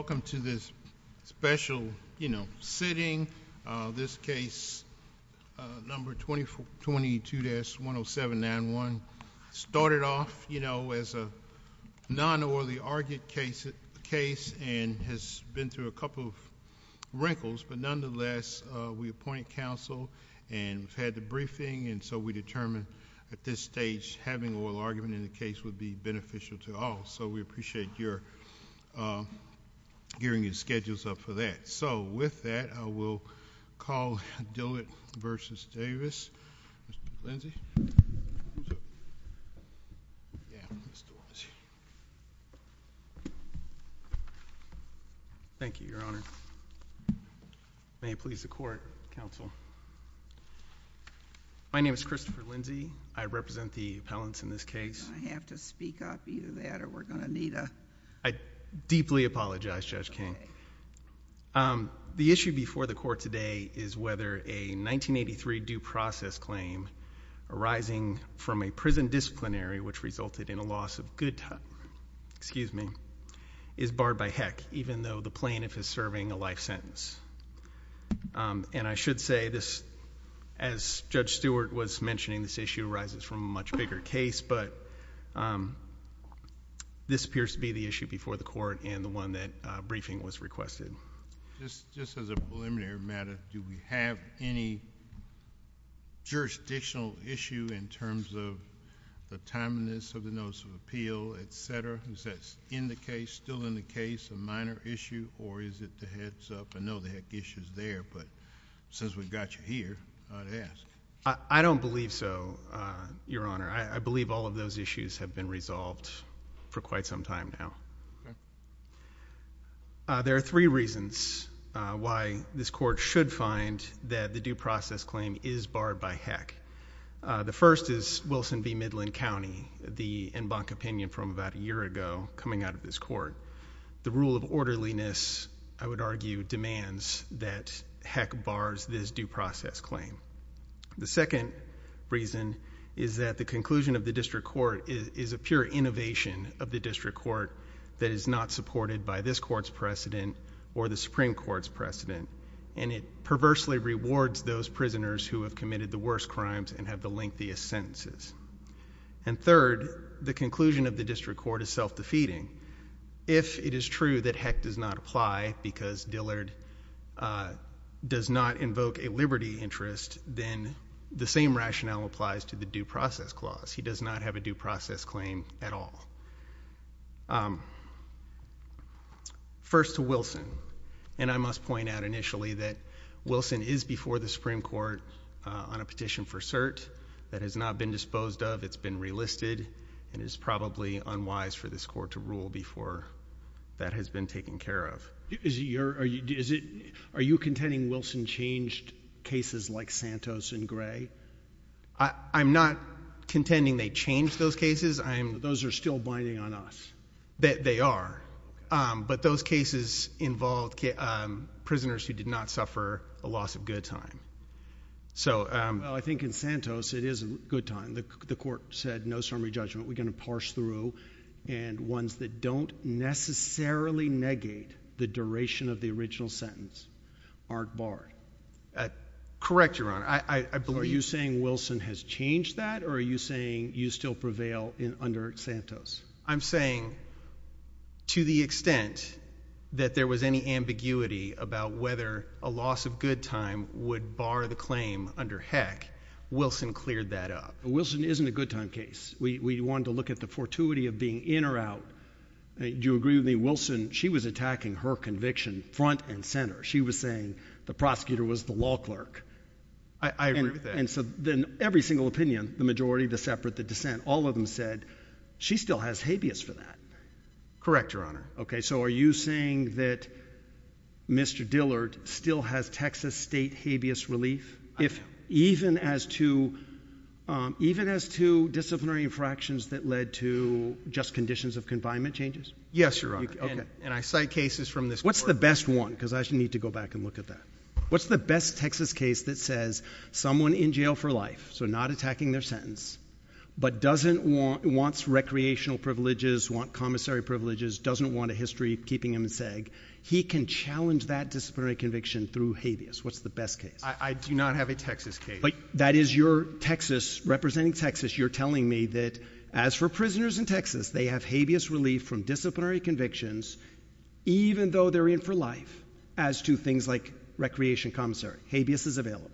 Welcome to this special, you know, sitting, this case number 2422-10791 started off, you know, as a non-orally argued case and has been through a couple of wrinkles, but nonetheless we appointed counsel and we've had the briefing and so we determined at this stage having oral argument in the case would be beneficial to all, so we appreciate your gearing your schedules up for that. So with that, I will call Dillard v. Davis, Mr. Lindsey. Thank you, your honor. May it please the court, counsel. My name is Christopher Lindsey. I represent the appellants in this case. Do I have to speak up, either that or we're going to need a... I deeply apologize, Judge King. The issue before the court today is whether a 1983 due process claim arising from a prison disciplinary which resulted in a loss of good time, excuse me, is barred by heck even though the plaintiff is serving a life sentence. And I should say this, as Judge Stewart was mentioning, this issue arises from a much bigger case, but this appears to be the issue before the court and the one that briefing was requested. Just as a preliminary matter, do we have any jurisdictional issue in terms of the timeliness of the notice of appeal, et cetera, is that in the case, still in the case, a minor issue or is it the heads up? I know the heck issue is there, but since we've got you here, I'd ask. I don't believe so, your honor. I believe all of those issues have been resolved for quite some time now. There are three reasons why this court should find that the due process claim is barred by heck. The first is Wilson v. Midland County, the en banc opinion from about a year ago coming out of this court. The rule of orderliness, I would argue, demands that heck bars this due process claim. The second reason is that the conclusion of the district court is a pure innovation of the district court that is not supported by this court's precedent or the Supreme Court's precedent and it perversely rewards those prisoners who have committed the worst crimes and have the lengthiest sentences. Third, the conclusion of the district court is self-defeating. If it is true that heck does not apply because Dillard does not invoke a liberty interest, then the same rationale applies to the due process clause. He does not have a due process claim at all. First to Wilson, and I must point out initially that Wilson is before the Supreme Court on a petition for cert that has not been disposed of, it's been relisted, and it's probably unwise for this court to rule before that has been taken care of. Are you contending Wilson changed cases like Santos and Gray? I'm not contending they changed those cases. Those are still binding on us. They are, but those cases involved prisoners who did not suffer a loss of good time. Well, I think in Santos it is a good time. The court said no summary judgment, we're going to parse through, and ones that don't necessarily negate the duration of the original sentence aren't barred. Correct, Your Honor. Are you saying Wilson has changed that or are you saying you still prevail under Santos? I'm saying to the extent that there was any ambiguity about whether a loss of good time would bar the claim under Heck, Wilson cleared that up. Wilson isn't a good time case. We want to look at the fortuity of being in or out. Do you agree with me? Wilson, she was attacking her conviction front and center. She was saying the prosecutor was the law clerk. I agree with that. Every single opinion, the majority, the separate, the dissent, all of them said she still has habeas for that. Correct, Your Honor. Okay, so are you saying that Mr. Dillard still has Texas state habeas relief, even as to disciplinary infractions that led to just conditions of confinement changes? Yes, Your Honor, and I cite cases from this court. What's the best one? Because I need to go back and look at that. What's the best Texas case that says someone in jail for life, so not attacking their sentence, but doesn't want, wants recreational privileges, want commissary privileges, doesn't want a history keeping him in seg, he can challenge that disciplinary conviction through habeas. What's the best case? I do not have a Texas case. That is your Texas, representing Texas, you're telling me that as for prisoners in Texas, they have habeas relief from disciplinary convictions, even though they're in for life, as to things like recreation commissary. Habeas is available.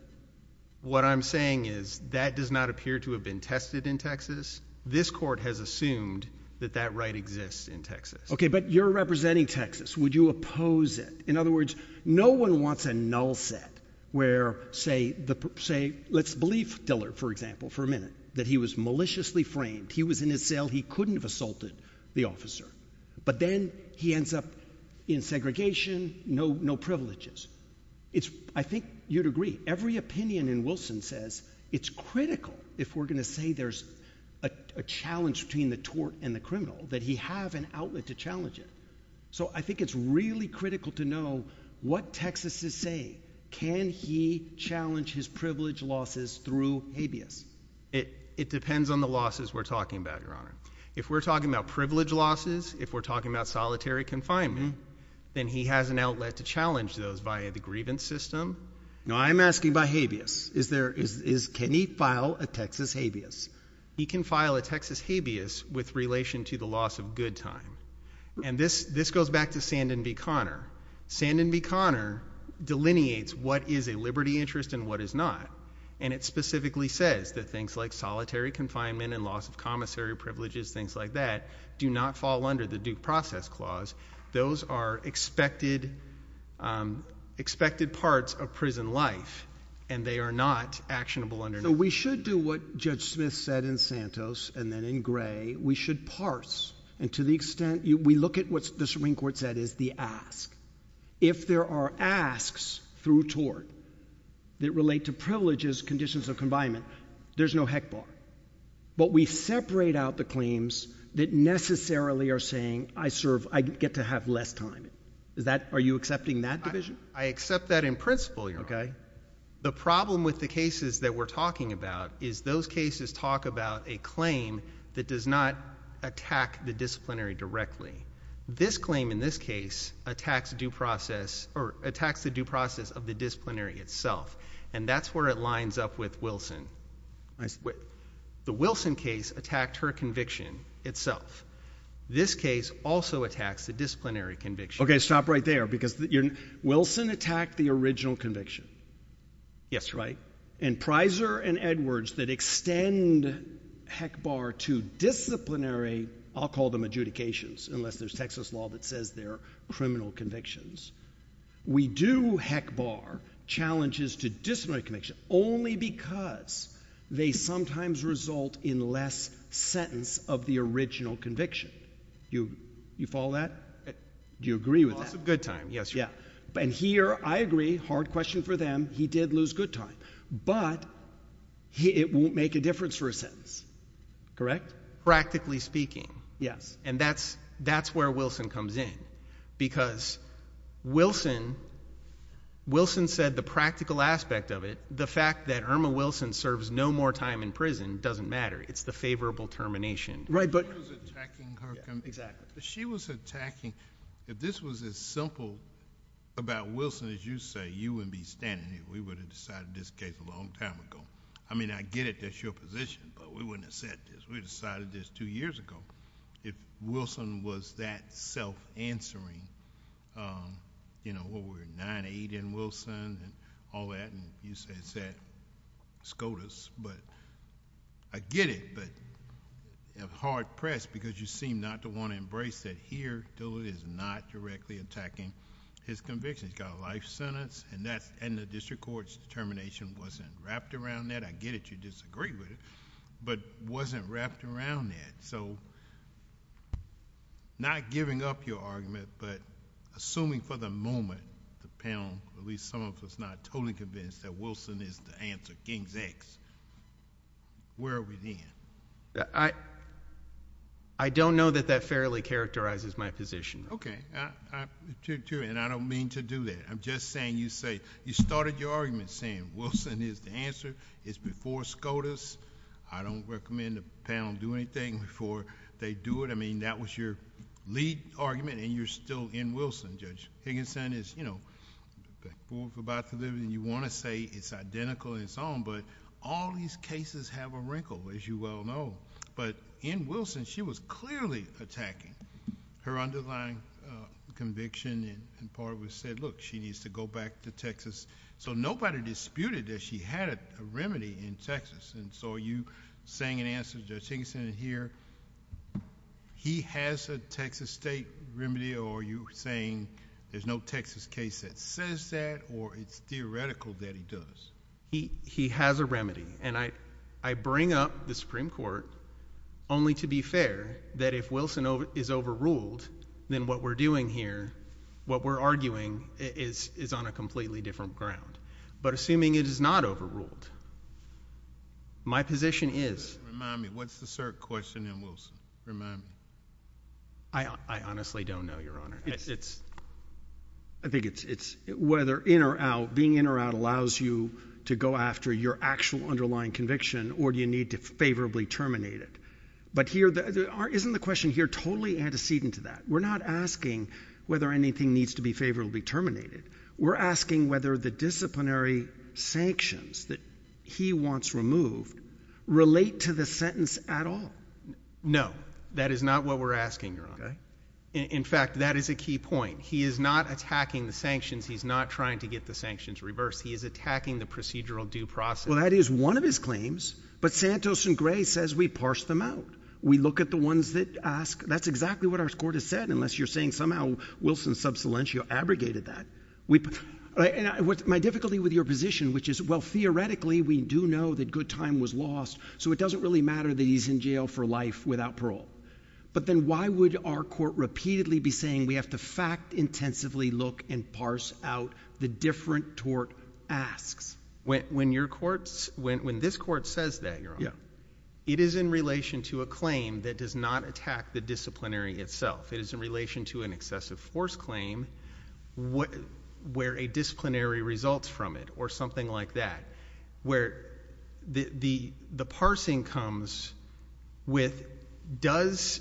What I'm saying is that does not appear to have been tested in Texas. This court has assumed that that right exists in Texas. Okay, but you're representing Texas. Would you oppose it? In other words, no one wants a null set where, say, let's believe Dillard, for example, for a minute, that he was maliciously framed. He was in his cell. He couldn't have assaulted the officer. But then he ends up in segregation, no privileges. I think you'd agree. Every opinion in Wilson says it's critical if we're going to say there's a challenge between the tort and the criminal, that he have an outlet to challenge it. So I think it's really critical to know what Texas is saying. Can he challenge his privilege losses through habeas? It depends on the losses we're talking about, Your Honor. If we're talking about privilege losses, if we're talking about solitary confinement, then he has an outlet to challenge those via the grievance system. Now, I'm asking about habeas. Can he file a Texas habeas? He can file a Texas habeas with relation to the loss of good time. And this goes back to Sandin v. Conner. Sandin v. Conner delineates what is a liberty interest and what is not, and it specifically says that things like solitary confinement and loss of commissary privileges, things like that, do not fall under the Duke Process Clause. Those are expected parts of prison life, and they are not actionable under Duke. So we should do what Judge Smith said in Santos and then in Gray. We should parse, and to the extent, we look at what the Supreme Court said is the ask. If there are asks through tort that relate to privileges, conditions of confinement, there's no heck bar. But we separate out the claims that necessarily are saying, I get to have less time. Are you accepting that division? I accept that in principle, Your Honor. The problem with the cases that we're talking about is those cases talk about a claim that does not attack the disciplinary directly. This claim in this case attacks the due process of the disciplinary itself, and that's where it lines up with Wilson. The Wilson case attacked her conviction itself. This case also attacks the disciplinary conviction. Okay, stop right there, because Wilson attacked the original conviction. Yes, Your Honor. And Prysor and Edwards that extend heck bar to disciplinary, I'll call them adjudications unless there's Texas law that says they're criminal convictions. We do heck bar challenges to disciplinary conviction only because they sometimes result in less sentence of the original conviction. You follow that? Do you agree with that? Loss of good time. Yes, Your Honor. Yeah. And here, I agree. Hard question for them. He did lose good time. But it won't make a difference for a sentence, correct? Practically speaking. Yes. And that's where Wilson comes in, because Wilson said the practical aspect of it, the fact that Irma Wilson serves no more time in prison doesn't matter. It's the favorable termination. Right, but- She was attacking her conviction. Exactly. She was attacking, if this was as simple about Wilson as you say, you wouldn't be standing here. We would have decided this case a long time ago. I mean, I get it. That's your position, but we wouldn't have said this. We decided this two years ago. If Wilson was that self-answering, well, we're 9-8 in Wilson and all that, and you said SCOTUS. But I get it, but I'm hard-pressed, because you seem not to want to embrace that here, Dillard is not directly attacking his conviction. He's got a life sentence, and the district court's determination wasn't wrapped around that. I get it. I get that you disagree with it, but it wasn't wrapped around that. So, not giving up your argument, but assuming for the moment the panel, at least some of us, is not totally convinced that Wilson is the answer, King's X, where are we then? I don't know that that fairly characterizes my position. Okay. And I don't mean to do that. I'm just saying you started your argument saying Wilson is the answer. It's before SCOTUS. I don't recommend the panel do anything before they do it. I mean, that was your lead argument, and you're still in Wilson, Judge Higginson. The fool's about to live, and you want to say it's identical and so on, but all these cases have a wrinkle, as you well know. But in Wilson, she was clearly attacking her underlying conviction, and part of it was she said, look, she needs to go back to Texas. So, nobody disputed that she had a remedy in Texas, and so are you saying in answer to Judge Higginson here, he has a Texas state remedy, or are you saying there's no Texas case that says that, or it's theoretical that he does? He has a remedy, and I bring up the Supreme Court only to be fair that if Wilson is overruled, then what we're doing here, what we're arguing is on a completely different ground. But assuming it is not overruled, my position is... Remind me. What's the cert question in Wilson? Remind me. I honestly don't know, Your Honor. I think it's whether in or out, being in or out allows you to go after your actual underlying conviction, or do you need to favorably terminate it? But here, isn't the question here totally antecedent to that? We're not asking whether anything needs to be favorably terminated. We're asking whether the disciplinary sanctions that he wants removed relate to the sentence at all. No, that is not what we're asking, Your Honor. In fact, that is a key point. He is not attacking the sanctions. He's not trying to get the sanctions reversed. He is attacking the procedural due process. Well, that is one of his claims, but Santos and Gray says we parse them out. We look at the ones that ask. That's exactly what our court has said, unless you're saying somehow Wilson sub silentio abrogated that. My difficulty with your position, which is, well, theoretically, we do know that good time was lost, so it doesn't really matter that he's in jail for life without parole. But then why would our court repeatedly be saying we have to fact-intensively look and parse out the different tort asks? When this court says that, Your Honor, it is in relation to a claim that does not attack the disciplinary itself. It is in relation to an excessive force claim where a disciplinary results from it or something like that, where the parsing comes with, does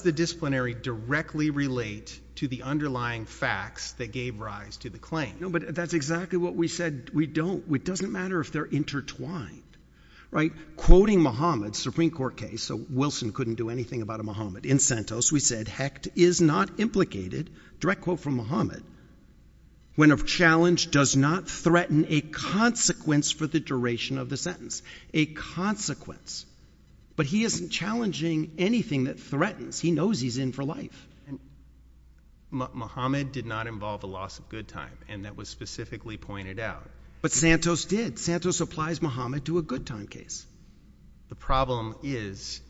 the disciplinary directly relate to the underlying facts that gave rise to the claim? No, but that's exactly what we said we don't. It doesn't matter if they're intertwined, right? Quoting Muhammad, Supreme Court case, so Wilson couldn't do anything about a Muhammad. In Santos, we said, Hecht is not implicated, direct quote from Muhammad, when a challenge does not threaten a consequence for the duration of the sentence. A consequence. But he isn't challenging anything that threatens. He knows he's in for life. Muhammad did not involve a loss of good time, and that was specifically pointed out. But Santos did. Santos applies Muhammad to a good time case. The problem is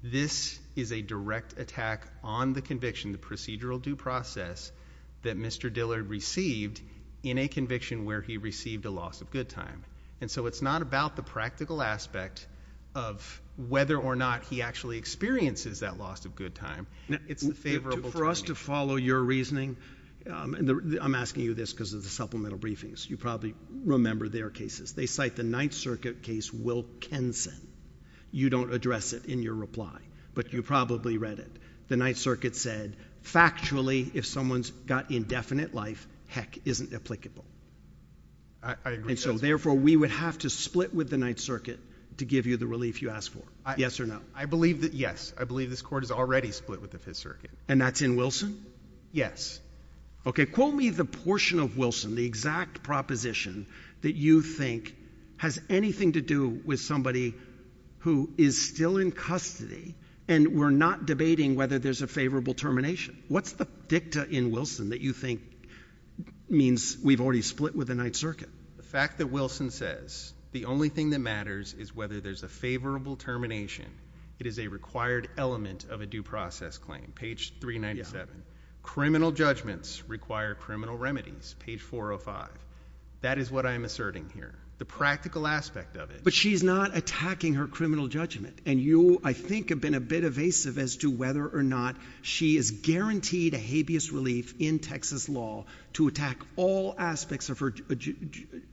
this is a direct attack on the conviction, the procedural due process that Mr. Dillard received in a conviction where he received a loss of good time. And so it's not about the practical aspect of whether or not he actually experiences that loss of good time. It's the favorable timing. For us to follow your reasoning, I'm asking you this because of the supplemental briefings. You probably remember their cases. They cite the Ninth Circuit case Wilkinson. You don't address it in your reply, but you probably read it. The Ninth Circuit said, Factually, if someone's got indefinite life, Heck isn't applicable. I agree. And so therefore, we would have to split with the Ninth Circuit to give you the relief you asked for. Yes or no? I believe that, yes. I believe this Court has already split with the Fifth Circuit. And that's in Wilson? Yes. Okay. Quote me the portion of Wilson, the exact proposition that you think has anything to do with somebody who is still in custody and we're not debating whether there's a favorable termination. What's the dicta in Wilson that you think means we've already split with the Ninth Circuit? The fact that Wilson says the only thing that matters is whether there's a favorable termination. It is a required element of a due process claim. Page 397. Criminal judgments require criminal remedies. Page 405. That is what I am asserting here. The practical aspect of it. But she's not attacking her criminal judgment. And you, I think, have been a bit evasive as to whether or not she is guaranteed a habeas relief in Texas law to attack all aspects of her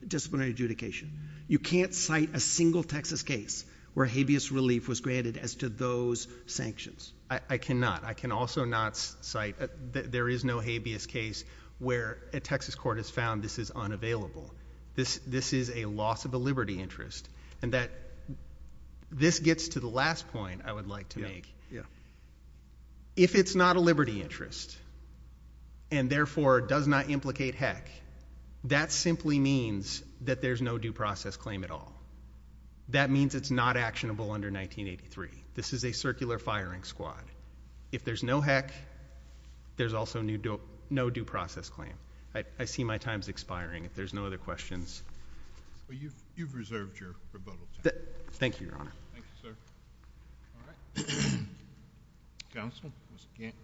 disciplinary adjudication. You can't cite a single Texas case where habeas relief was granted as to those sanctions. I cannot. I can also not cite, there is no habeas case where a Texas court has found this is unavailable. This is a loss of a liberty interest. And that, this gets to the last point I would like to make. Yeah. If it's not a liberty interest, and therefore does not implicate heck, that simply means that there's no due process claim at all. That means it's not actionable under 1983. This is a circular firing squad. If there's no heck, there's also no due process claim. I see my time is expiring. If there's no other questions. Well, you've reserved your rebuttal time. Thank you, Your Honor. Thank you, sir. All right. Counsel. Mr. Gant.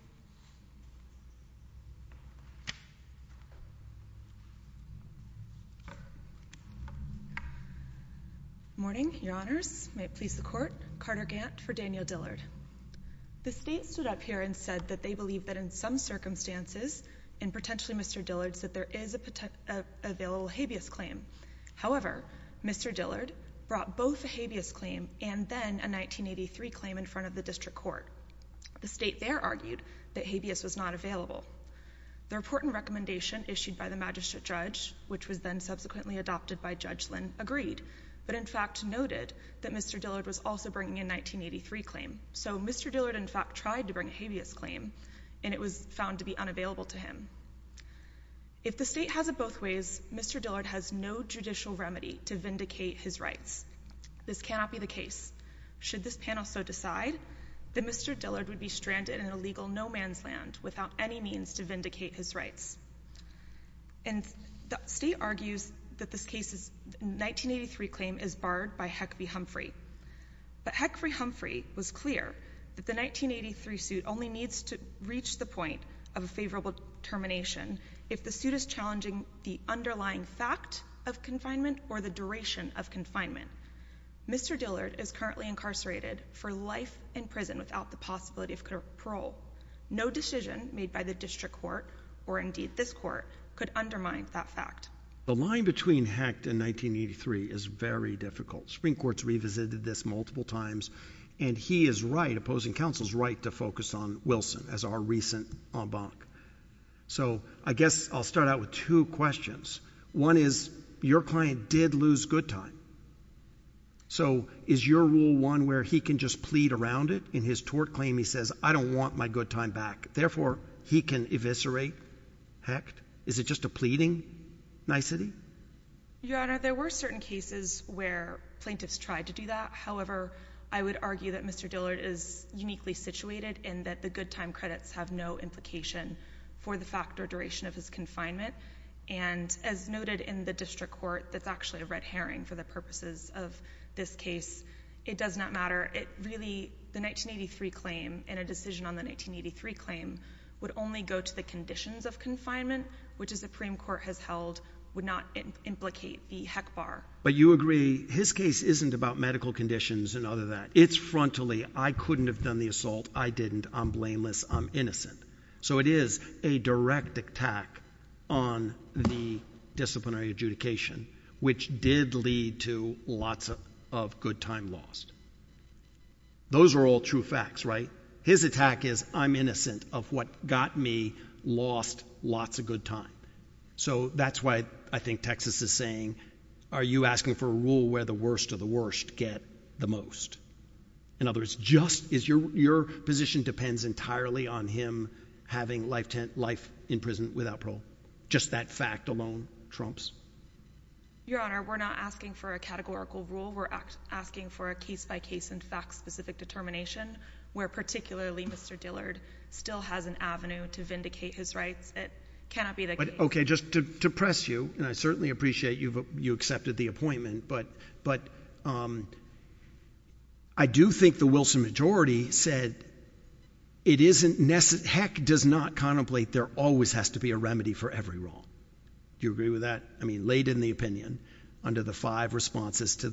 Good morning, Your Honors. May it please the Court. Carter Gant for Daniel Dillard. The state stood up here and said that they believe that in some circumstances, and potentially Mr. Dillard, that there is a available habeas claim. However, Mr. Dillard brought both a habeas claim and then a 1983 claim in front of the district court. The state there argued that habeas was not available. The report and recommendation issued by the magistrate judge, which was then subsequently adopted by Judge Lynn, agreed, but in fact noted that Mr. Dillard was also bringing a 1983 claim. So, Mr. Dillard, in fact, tried to bring a habeas claim, and it was found to be unavailable to him. If the state has it both ways, Mr. Dillard has no judicial remedy to vindicate his rights. This cannot be the case. Should this panel so decide, then Mr. Dillard would be stranded in a legal no-man's land without any means to vindicate his rights. And the state argues that this case's 1983 claim is barred by Huckabee Humphrey. But Huckabee Humphrey was clear that the 1983 suit only needs to reach the point of a favorable termination if the suit is challenging the underlying fact of confinement or the duration of confinement. Mr. Dillard is currently incarcerated for life in prison without the possibility of parole. No decision made by the district court, or indeed this court, could undermine that fact. The line between Hecht and 1983 is very difficult. Supreme Court's revisited this multiple times, and he is right, opposing counsel's right to focus on Wilson as our recent en banc. So, I guess I'll start out with two questions. One is, your client did lose good time. So, is your rule one where he can just plead around it? Or in his tort claim, he says, I don't want my good time back. Therefore, he can eviscerate Hecht? Is it just a pleading nicety? Your Honor, there were certain cases where plaintiffs tried to do that. However, I would argue that Mr. Dillard is uniquely situated in that the good time credits have no implication for the fact or duration of his confinement. And as noted in the district court, that's actually a red herring for the purposes of this case. It does not matter. It really, the 1983 claim and a decision on the 1983 claim would only go to the conditions of confinement, which the Supreme Court has held would not implicate the heck bar. But you agree, his case isn't about medical conditions and other that. It's frontally, I couldn't have done the assault. I didn't. I'm blameless. I'm innocent. So, it is a direct attack on the disciplinary adjudication, which did lead to lots of good time lost. Those are all true facts, right? His attack is, I'm innocent of what got me lost lots of good time. So, that's why I think Texas is saying, are you asking for a rule where the worst of the worst get the most? In other words, just as your position depends entirely on him having life in prison without parole. Just that fact alone trumps. Your Honor, we're not asking for a categorical rule. We're asking for a case-by-case and fact-specific determination, where particularly Mr. Dillard still has an avenue to vindicate his rights. It cannot be the case. Okay, just to press you, and I certainly appreciate you accepted the appointment, but I do think the Wilson majority said, it isn't necessary, heck, does not contemplate there always has to be a remedy for every wrong. Do you agree with that? I mean, laid in the opinion, under the five responses to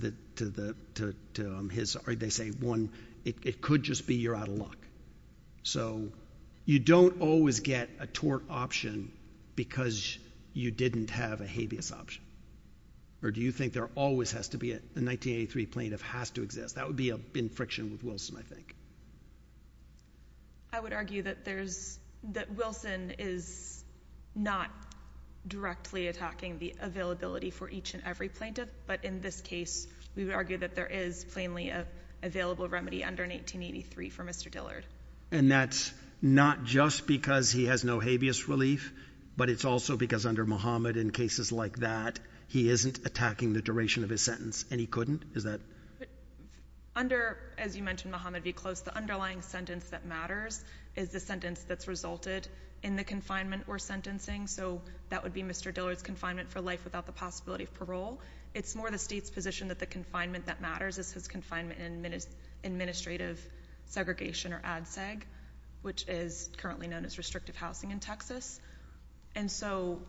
his, or they say one, it could just be you're out of luck. So, you don't always get a tort option because you didn't have a habeas option. Or do you think there always has to be a, the 1983 plaintiff has to exist? That would be in friction with Wilson, I think. I would argue that Wilson is not directly attacking the availability for each and every plaintiff, but in this case, we would argue that there is plainly an available remedy under 1983 for Mr. Dillard. And that's not just because he has no habeas relief, but it's also because under Muhammad in cases like that, he isn't attacking the duration of his sentence, and he couldn't? Is that? Under, as you mentioned, Muhammad v. Close, the underlying sentence that matters is the sentence that's resulted in the confinement or sentencing. So, that would be Mr. Dillard's confinement for life without the possibility of parole. It's more the state's position that the confinement that matters is his confinement in administrative segregation, or ADSEG, which is currently known as restrictive housing in Texas. And so,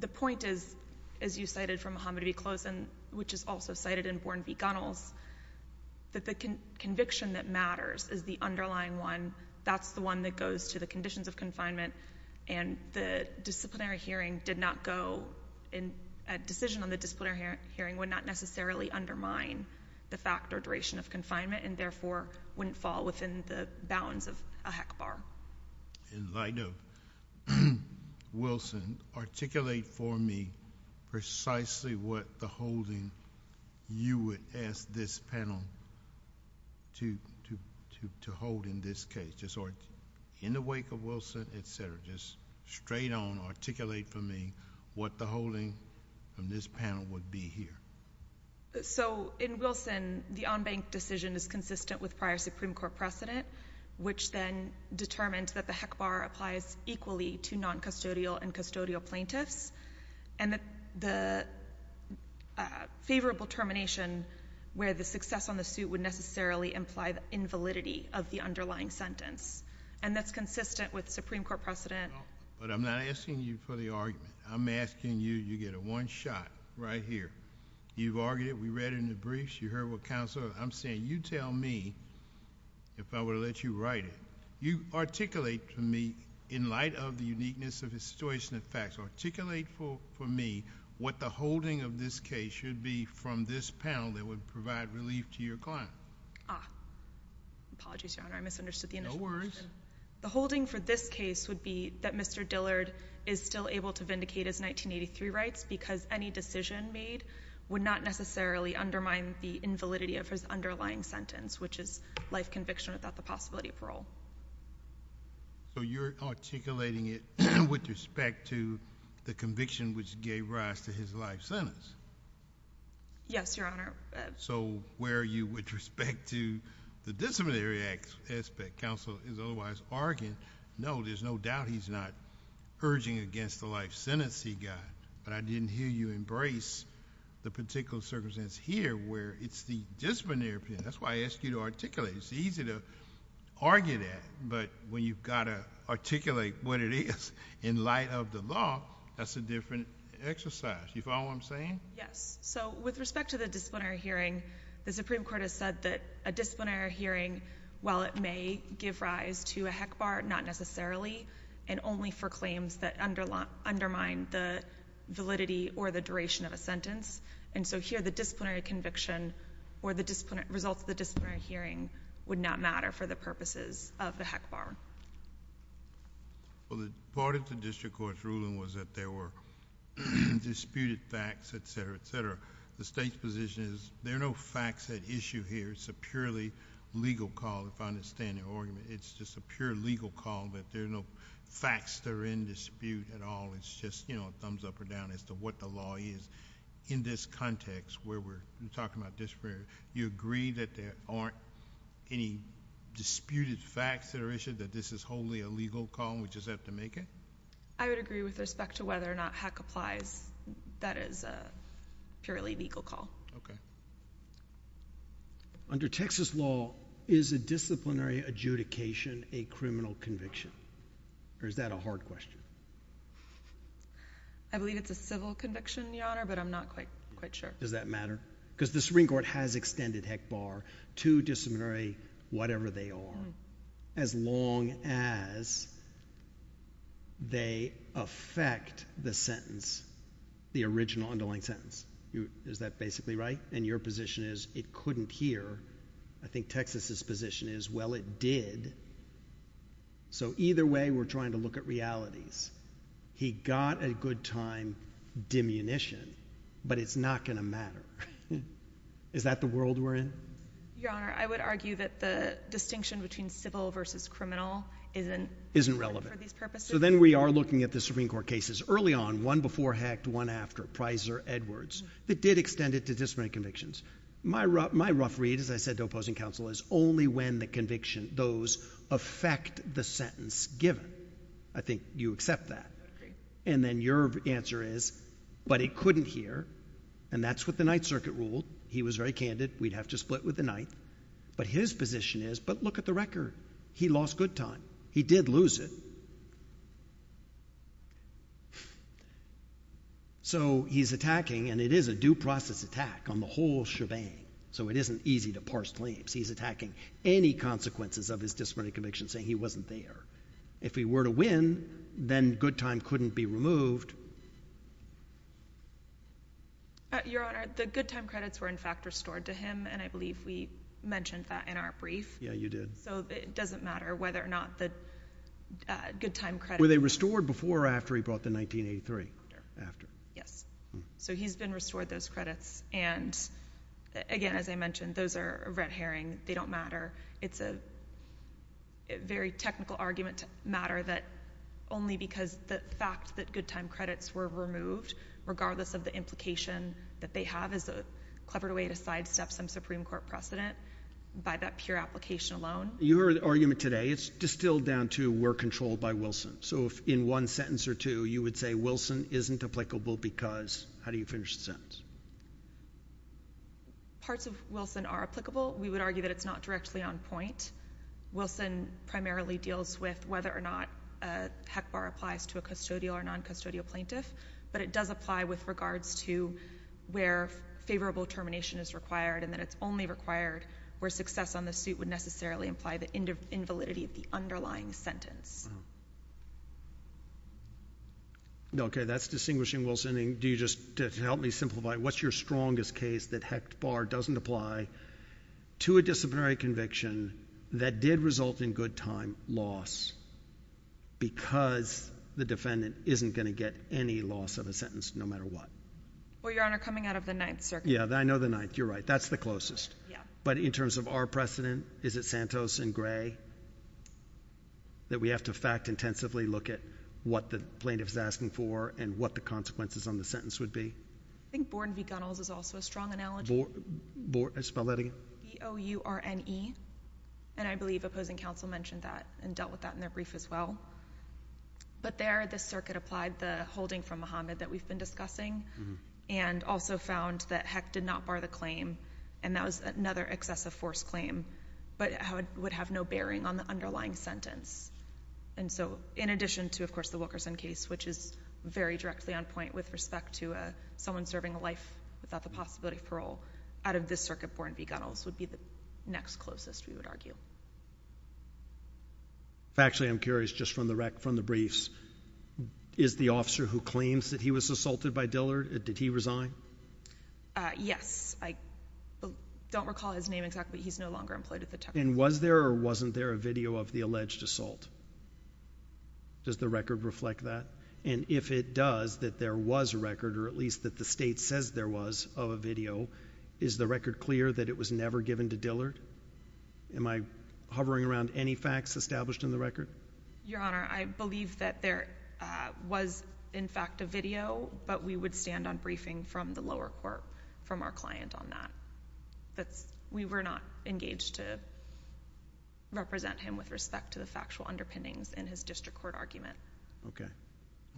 the point is, as you cited from Muhammad v. Close, and which is also cited in Born v. Gunnels, that the conviction that matters is the underlying one, that's the one that goes to the conditions of confinement, and the disciplinary hearing did not go, a decision on the disciplinary hearing would not necessarily undermine the fact or duration of confinement, and therefore, wouldn't fall within the bounds of a HECBAR. In light of Wilson, articulate for me precisely what the holding you would ask this panel to hold in this case, or in the wake of Wilson, et cetera. Just straight on, articulate for me what the holding from this panel would be here. So, in Wilson, the on-bank decision is consistent with prior Supreme Court precedent, which then determined that the HECBAR applies equally to non-custodial and custodial plaintiffs, and the favorable termination where the success on the suit would necessarily imply the invalidity of the underlying sentence, and that's consistent with Supreme Court precedent. But I'm not asking you for the argument. I'm asking you, you get a one shot right here. You've argued it. We read it in the briefs. You heard what counsel, I'm saying, you tell me if I were to let you write it. You articulate for me, in light of the uniqueness of his situation and facts, articulate for me what the holding of this case should be from this panel that would provide relief to your client. Ah. Apologies, Your Honor. I misunderstood the initial question. No worries. The holding for this case would be that Mr. Dillard is still able to vindicate his 1983 rights because any decision made would not necessarily undermine the invalidity of his So you're articulating it with respect to the conviction which gave rise to his life sentence? Yes, Your Honor. So where are you with respect to the disciplinary aspect? Counsel is otherwise arguing, no, there's no doubt he's not urging against the life sentence he got, but I didn't hear you embrace the particular circumstance here where it's the disciplinary opinion. That's why I asked you to articulate. It's easy to argue that, but when you've got to articulate what it is in light of the law, that's a different exercise. You follow what I'm saying? Yes. So with respect to the disciplinary hearing, the Supreme Court has said that a disciplinary hearing, while it may give rise to a heck bar, not necessarily, and only for claims that undermine the validity or the duration of a sentence. And so here the disciplinary conviction or the results of the disciplinary hearing would not matter for the purposes of the heck bar. Well, part of the district court's ruling was that there were disputed facts, et cetera, et cetera. The state's position is there are no facts at issue here. It's a purely legal call, if I understand your argument. It's just a pure legal call that there are no facts that are in dispute at all. It's just a thumbs up or down as to what the law is. In this context where we're talking about disciplinary, you agree that there aren't any disputed facts that are issued, that this is wholly a legal call and we just have to make it? I would agree with respect to whether or not heck applies. That is a purely legal call. Okay. Under Texas law, is a disciplinary adjudication a criminal conviction, or is that a hard question? I believe it's a civil conviction, Your Honor, but I'm not quite sure. Does that matter? Because the Supreme Court has extended heck bar to disciplinary whatever they are, as long as they affect the sentence, the original underlying sentence. Is that basically right? And your position is it couldn't hear. I think Texas's position is, well, it did. So either way, we're trying to look at realities. He got a good time dimunition, but it's not going to matter. Is that the world we're in? Your Honor, I would argue that the distinction between civil versus criminal isn't relevant for these purposes. So then we are looking at the Supreme Court cases early on, one before heck, one after, Pizer, Edwards, that did extend it to disciplinary convictions. My rough read, as I said to opposing counsel, is only when the conviction, those affect the sentence given. I think you accept that. And then your answer is, but it couldn't hear, and that's what the Ninth Circuit ruled. He was very candid. We'd have to split with the Ninth. But his position is, but look at the record. He lost good time. He did lose it. So he's attacking, and it is a due process attack on the whole shebang, so it isn't easy to parse claims. He's attacking any consequences of his disciplinary conviction, saying he wasn't there. If he were to win, then good time couldn't be removed. Your Honor, the good time credits were, in fact, restored to him, and I believe we mentioned that in our brief. Yeah, you did. So it doesn't matter whether or not the good time credits— Were they restored before or after he brought the 1983? After. Yes. So he's been restored those credits, and again, as I mentioned, those are red herring. They don't matter. It's a very technical argument to matter that only because the fact that good time credits were removed, regardless of the implication that they have as a clever way to sidestep some Supreme Court precedent by that pure application alone. Your argument today, it's distilled down to we're controlled by Wilson. So in one sentence or two, you would say Wilson isn't applicable because—how do you finish the sentence? Parts of Wilson are applicable. We would argue that it's not directly on point. Wilson primarily deals with whether or not a HEC bar applies to a custodial or noncustodial plaintiff, but it does apply with regards to where favorable termination is required and that it's only required where success on the suit would necessarily imply the invalidity of the underlying sentence. Okay, that's distinguishing Wilson. Do you just—to help me simplify, what's your strongest case that HEC bar doesn't apply to a disciplinary conviction that did result in good time loss because the defendant isn't going to get any loss of a sentence no matter what? Well, Your Honor, coming out of the Ninth Circuit— Yeah, I know the Ninth. You're right. That's the closest. Yeah. But in terms of our precedent, is it Santos and Gray that we have to fact-intensively look at what the plaintiff is asking for and what the consequences on the sentence would be? I think Borden v. Gunnels is also a strong analogy. Borden—spell that again. B-O-R-E-N-E, and I believe opposing counsel mentioned that and dealt with that in their brief as well. But there, the circuit applied the holding from Muhammad that we've been discussing and also found that HEC did not bar the claim and that was another excessive force claim but would have no bearing on the underlying sentence. And so, in addition to, of course, the Wilkerson case, which is very directly on point with respect to someone serving a life without the possibility of parole, out of this circuit, Borden v. Gunnels would be the next closest, we would argue. Actually, I'm curious, just from the briefs, is the officer who claims that he was assaulted by Dillard, did he resign? Yes. I don't recall his name exactly. He's no longer employed at the time. And was there or wasn't there a video of the alleged assault? Does the record reflect that? And if it does, that there was a record, or at least that the state says there was, of a video, is the record clear that it was never given to Dillard? Am I hovering around any facts established in the record? Your Honor, I believe that there was, in fact, a video, but we would stand on briefing from the lower court, from our client on that. We were not engaged to represent him with respect to the factual underpinnings in his district court argument. Okay.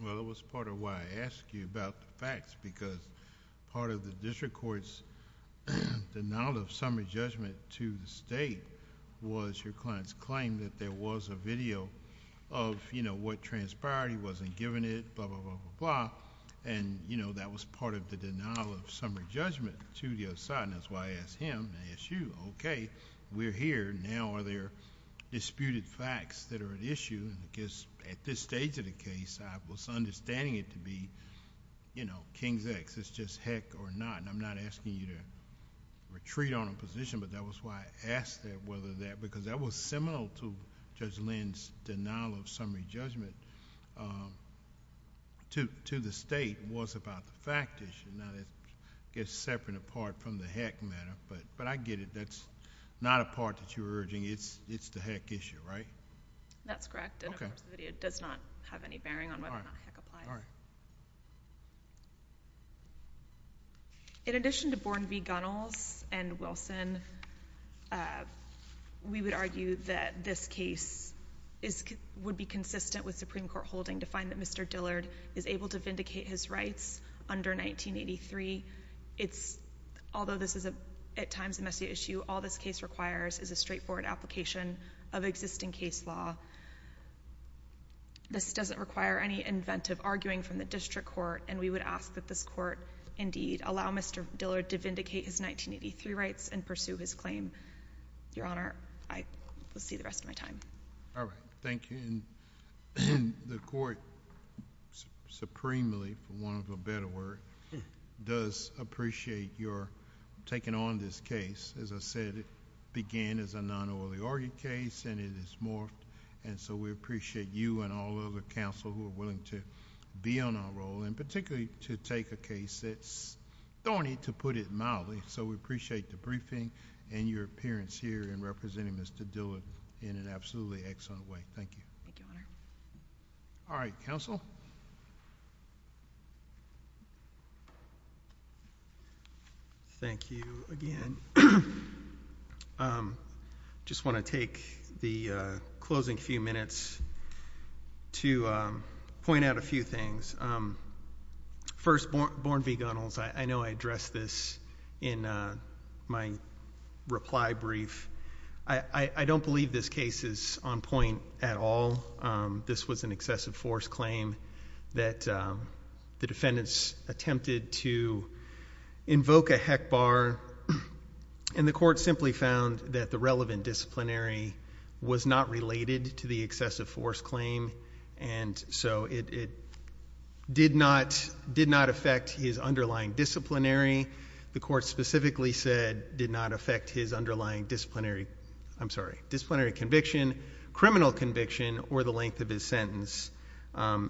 Well, it was part of why I asked you about the facts, because part of the district court's denial of summary judgment to the state was your client's claim that there was a video of what transpired. He wasn't given it, blah, blah, blah, blah, blah. And that was part of the denial of summary judgment to the other side. And that's why I asked him, I asked you, okay, we're here. Now, are there disputed facts that are at issue? Because at this stage of the case, I was understanding it to be King's X. It's just heck or not. I'm not asking you to retreat on a position, but that was why I asked whether that... because that was similar to Judge Lynn's denial of summary judgment to the state, was about the fact issue. Now, that gets separate and apart from the heck matter, but I get it. That's not a part that you're urging. It's the heck issue, right? That's correct. Okay. It does not have any bearing on whether or not heck applies. In addition to Bourne v. Gunnels and Wilson, we would argue that this case would be consistent with Supreme Court holding to find that Mr. Dillard is able to vindicate his rights under 1983. Although this is, at times, a messy issue, all this case requires is a straightforward application of existing case law. This doesn't require any inventive arguing from the district court, and we would ask that this court, indeed, allow Mr. Dillard to vindicate his 1983 rights and pursue his claim. Your Honor, I will see the rest of my time. All right. Thank you. The court, supremely, for want of a better word, does appreciate your taking on this case. As I said, it began as a non-Oily Orgy case, and it has morphed, and so we appreciate you and all of the counsel who are willing to be on our role, and particularly to take a case that's thorny, to put it mildly. So we appreciate the briefing and your appearance here in representing Mr. Dillard in an absolutely excellent way. Thank you. Thank you, Your Honor. All right. Counsel? Thank you again. I just want to take the closing few minutes to point out a few things. First, Born v. Gunnels, I know I addressed this in my reply brief. I don't believe this case is on point at all. This was an excessive force claim that the defendants attempted to invoke a heck bar, and the court simply found that the relevant disciplinary was not related to the excessive force claim, and so it did not affect his underlying disciplinary. The court specifically said it did not affect his underlying disciplinary conviction, criminal conviction, or the length of his sentence.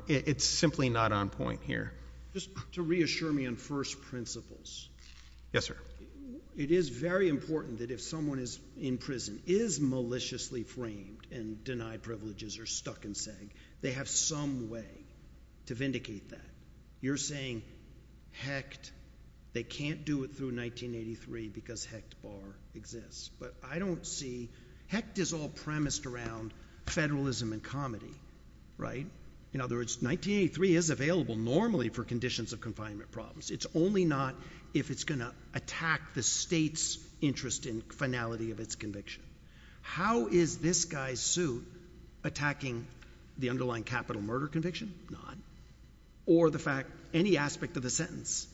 It's simply not on point here. Just to reassure me on first principles. Yes, sir. It is very important that if someone in prison is maliciously framed and denied privileges or stuck in seg, they have some way to vindicate that. You're saying hecked, they can't do it through 1983 because hecked bar exists. But I don't see, hecked is all premised around federalism and comedy, right? In other words, 1983 is available normally for conditions of confinement problems. It's only not if it's going to attack the state's interest in finality of its conviction. How is this guy's suit attacking the underlying capital murder conviction? Not. Or the fact, any aspect of the sentence?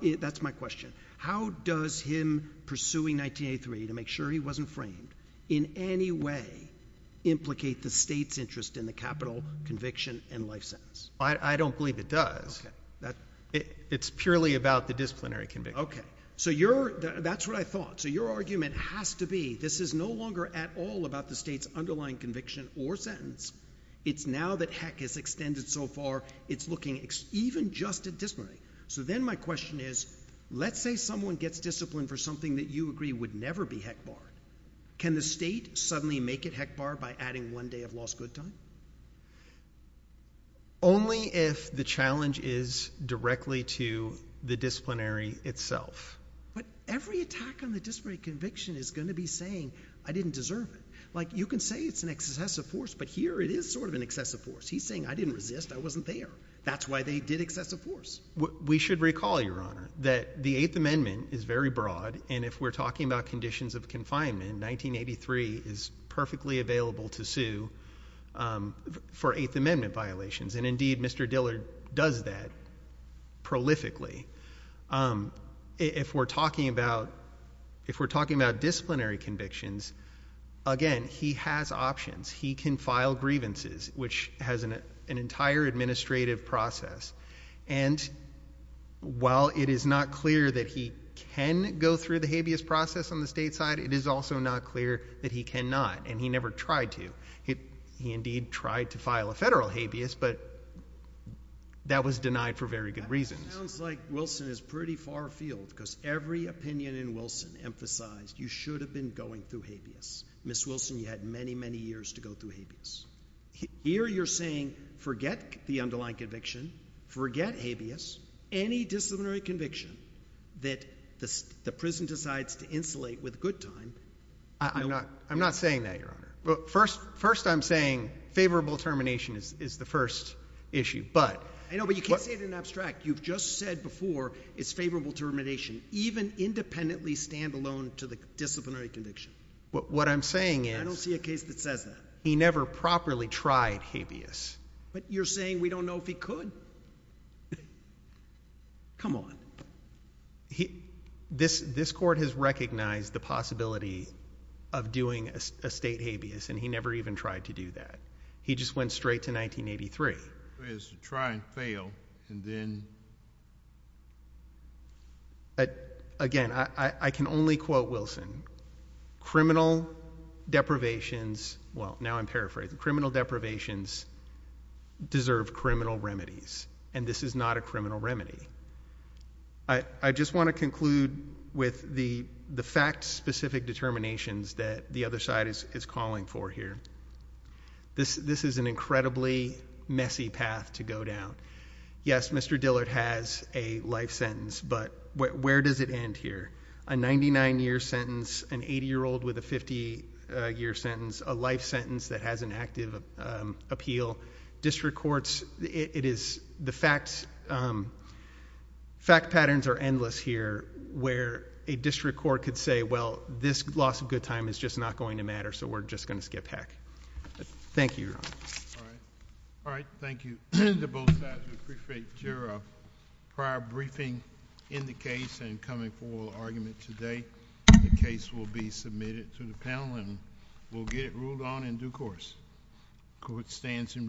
That's my question. How does him pursuing 1983 to make sure he wasn't framed in any way implicate the state's interest in the capital conviction and life sentence? I don't believe it does. It's purely about the disciplinary conviction. Okay. So that's what I thought. So your argument has to be this is no longer at all about the state's underlying conviction or sentence. It's now that heck is extended so far it's looking even just at disciplinary. So then my question is let's say someone gets disciplined for something that you agree would never be heck barred. Can the state suddenly make it heck barred by adding one day of lost good time? Only if the challenge is directly to the disciplinary itself. But every attack on the disciplinary conviction is going to be saying I didn't deserve it. Like you can say it's an excessive force, but here it is sort of an excessive force. He's saying I didn't resist. I wasn't there. That's why they did excessive force. We should recall, Your Honor, that the Eighth Amendment is very broad, and if we're talking about conditions of confinement, 1983 is perfectly available to sue for Eighth Amendment violations. And, indeed, Mr. Dillard does that prolifically. If we're talking about disciplinary convictions, again, he has options. He can file grievances, which has an entire administrative process, and while it is not clear that he can go through the habeas process on the state side, it is also not clear that he cannot, and he never tried to. He, indeed, tried to file a federal habeas, but that was denied for very good reasons. That sounds like Wilson is pretty far afield because every opinion in Wilson emphasized you should have been going through habeas. Ms. Wilson, you had many, many years to go through habeas. Here you're saying forget the underlying conviction, forget habeas, any disciplinary conviction that the prison decides to insulate with good time. I'm not saying that, Your Honor. First, I'm saying favorable termination is the first issue. I know, but you can't say it in abstract. You've just said before it's favorable termination, even independently stand alone to the disciplinary conviction. What I'm saying is— I don't see a case that says that. He never properly tried habeas. But you're saying we don't know if he could? Come on. This court has recognized the possibility of doing a state habeas, and he never even tried to do that. He just went straight to 1983. It's a try and fail, and then— Again, I can only quote Wilson. Criminal deprivations—well, now I'm paraphrasing. Criminal deprivations deserve criminal remedies, and this is not a criminal remedy. I just want to conclude with the fact-specific determinations that the other side is calling for here. This is an incredibly messy path to go down. Yes, Mr. Dillard has a life sentence, but where does it end here? A 99-year sentence, an 80-year-old with a 50-year sentence, a life sentence that has an active appeal. District courts—the fact patterns are endless here where a district court could say, well, this loss of good time is just not going to matter, so we're just going to skip heck. Thank you, Your Honor. All right, thank you to both sides. We appreciate your prior briefing in the case and coming for the argument today. The case will be submitted to the panel, and we'll get it ruled on in due course. Court stands in recess.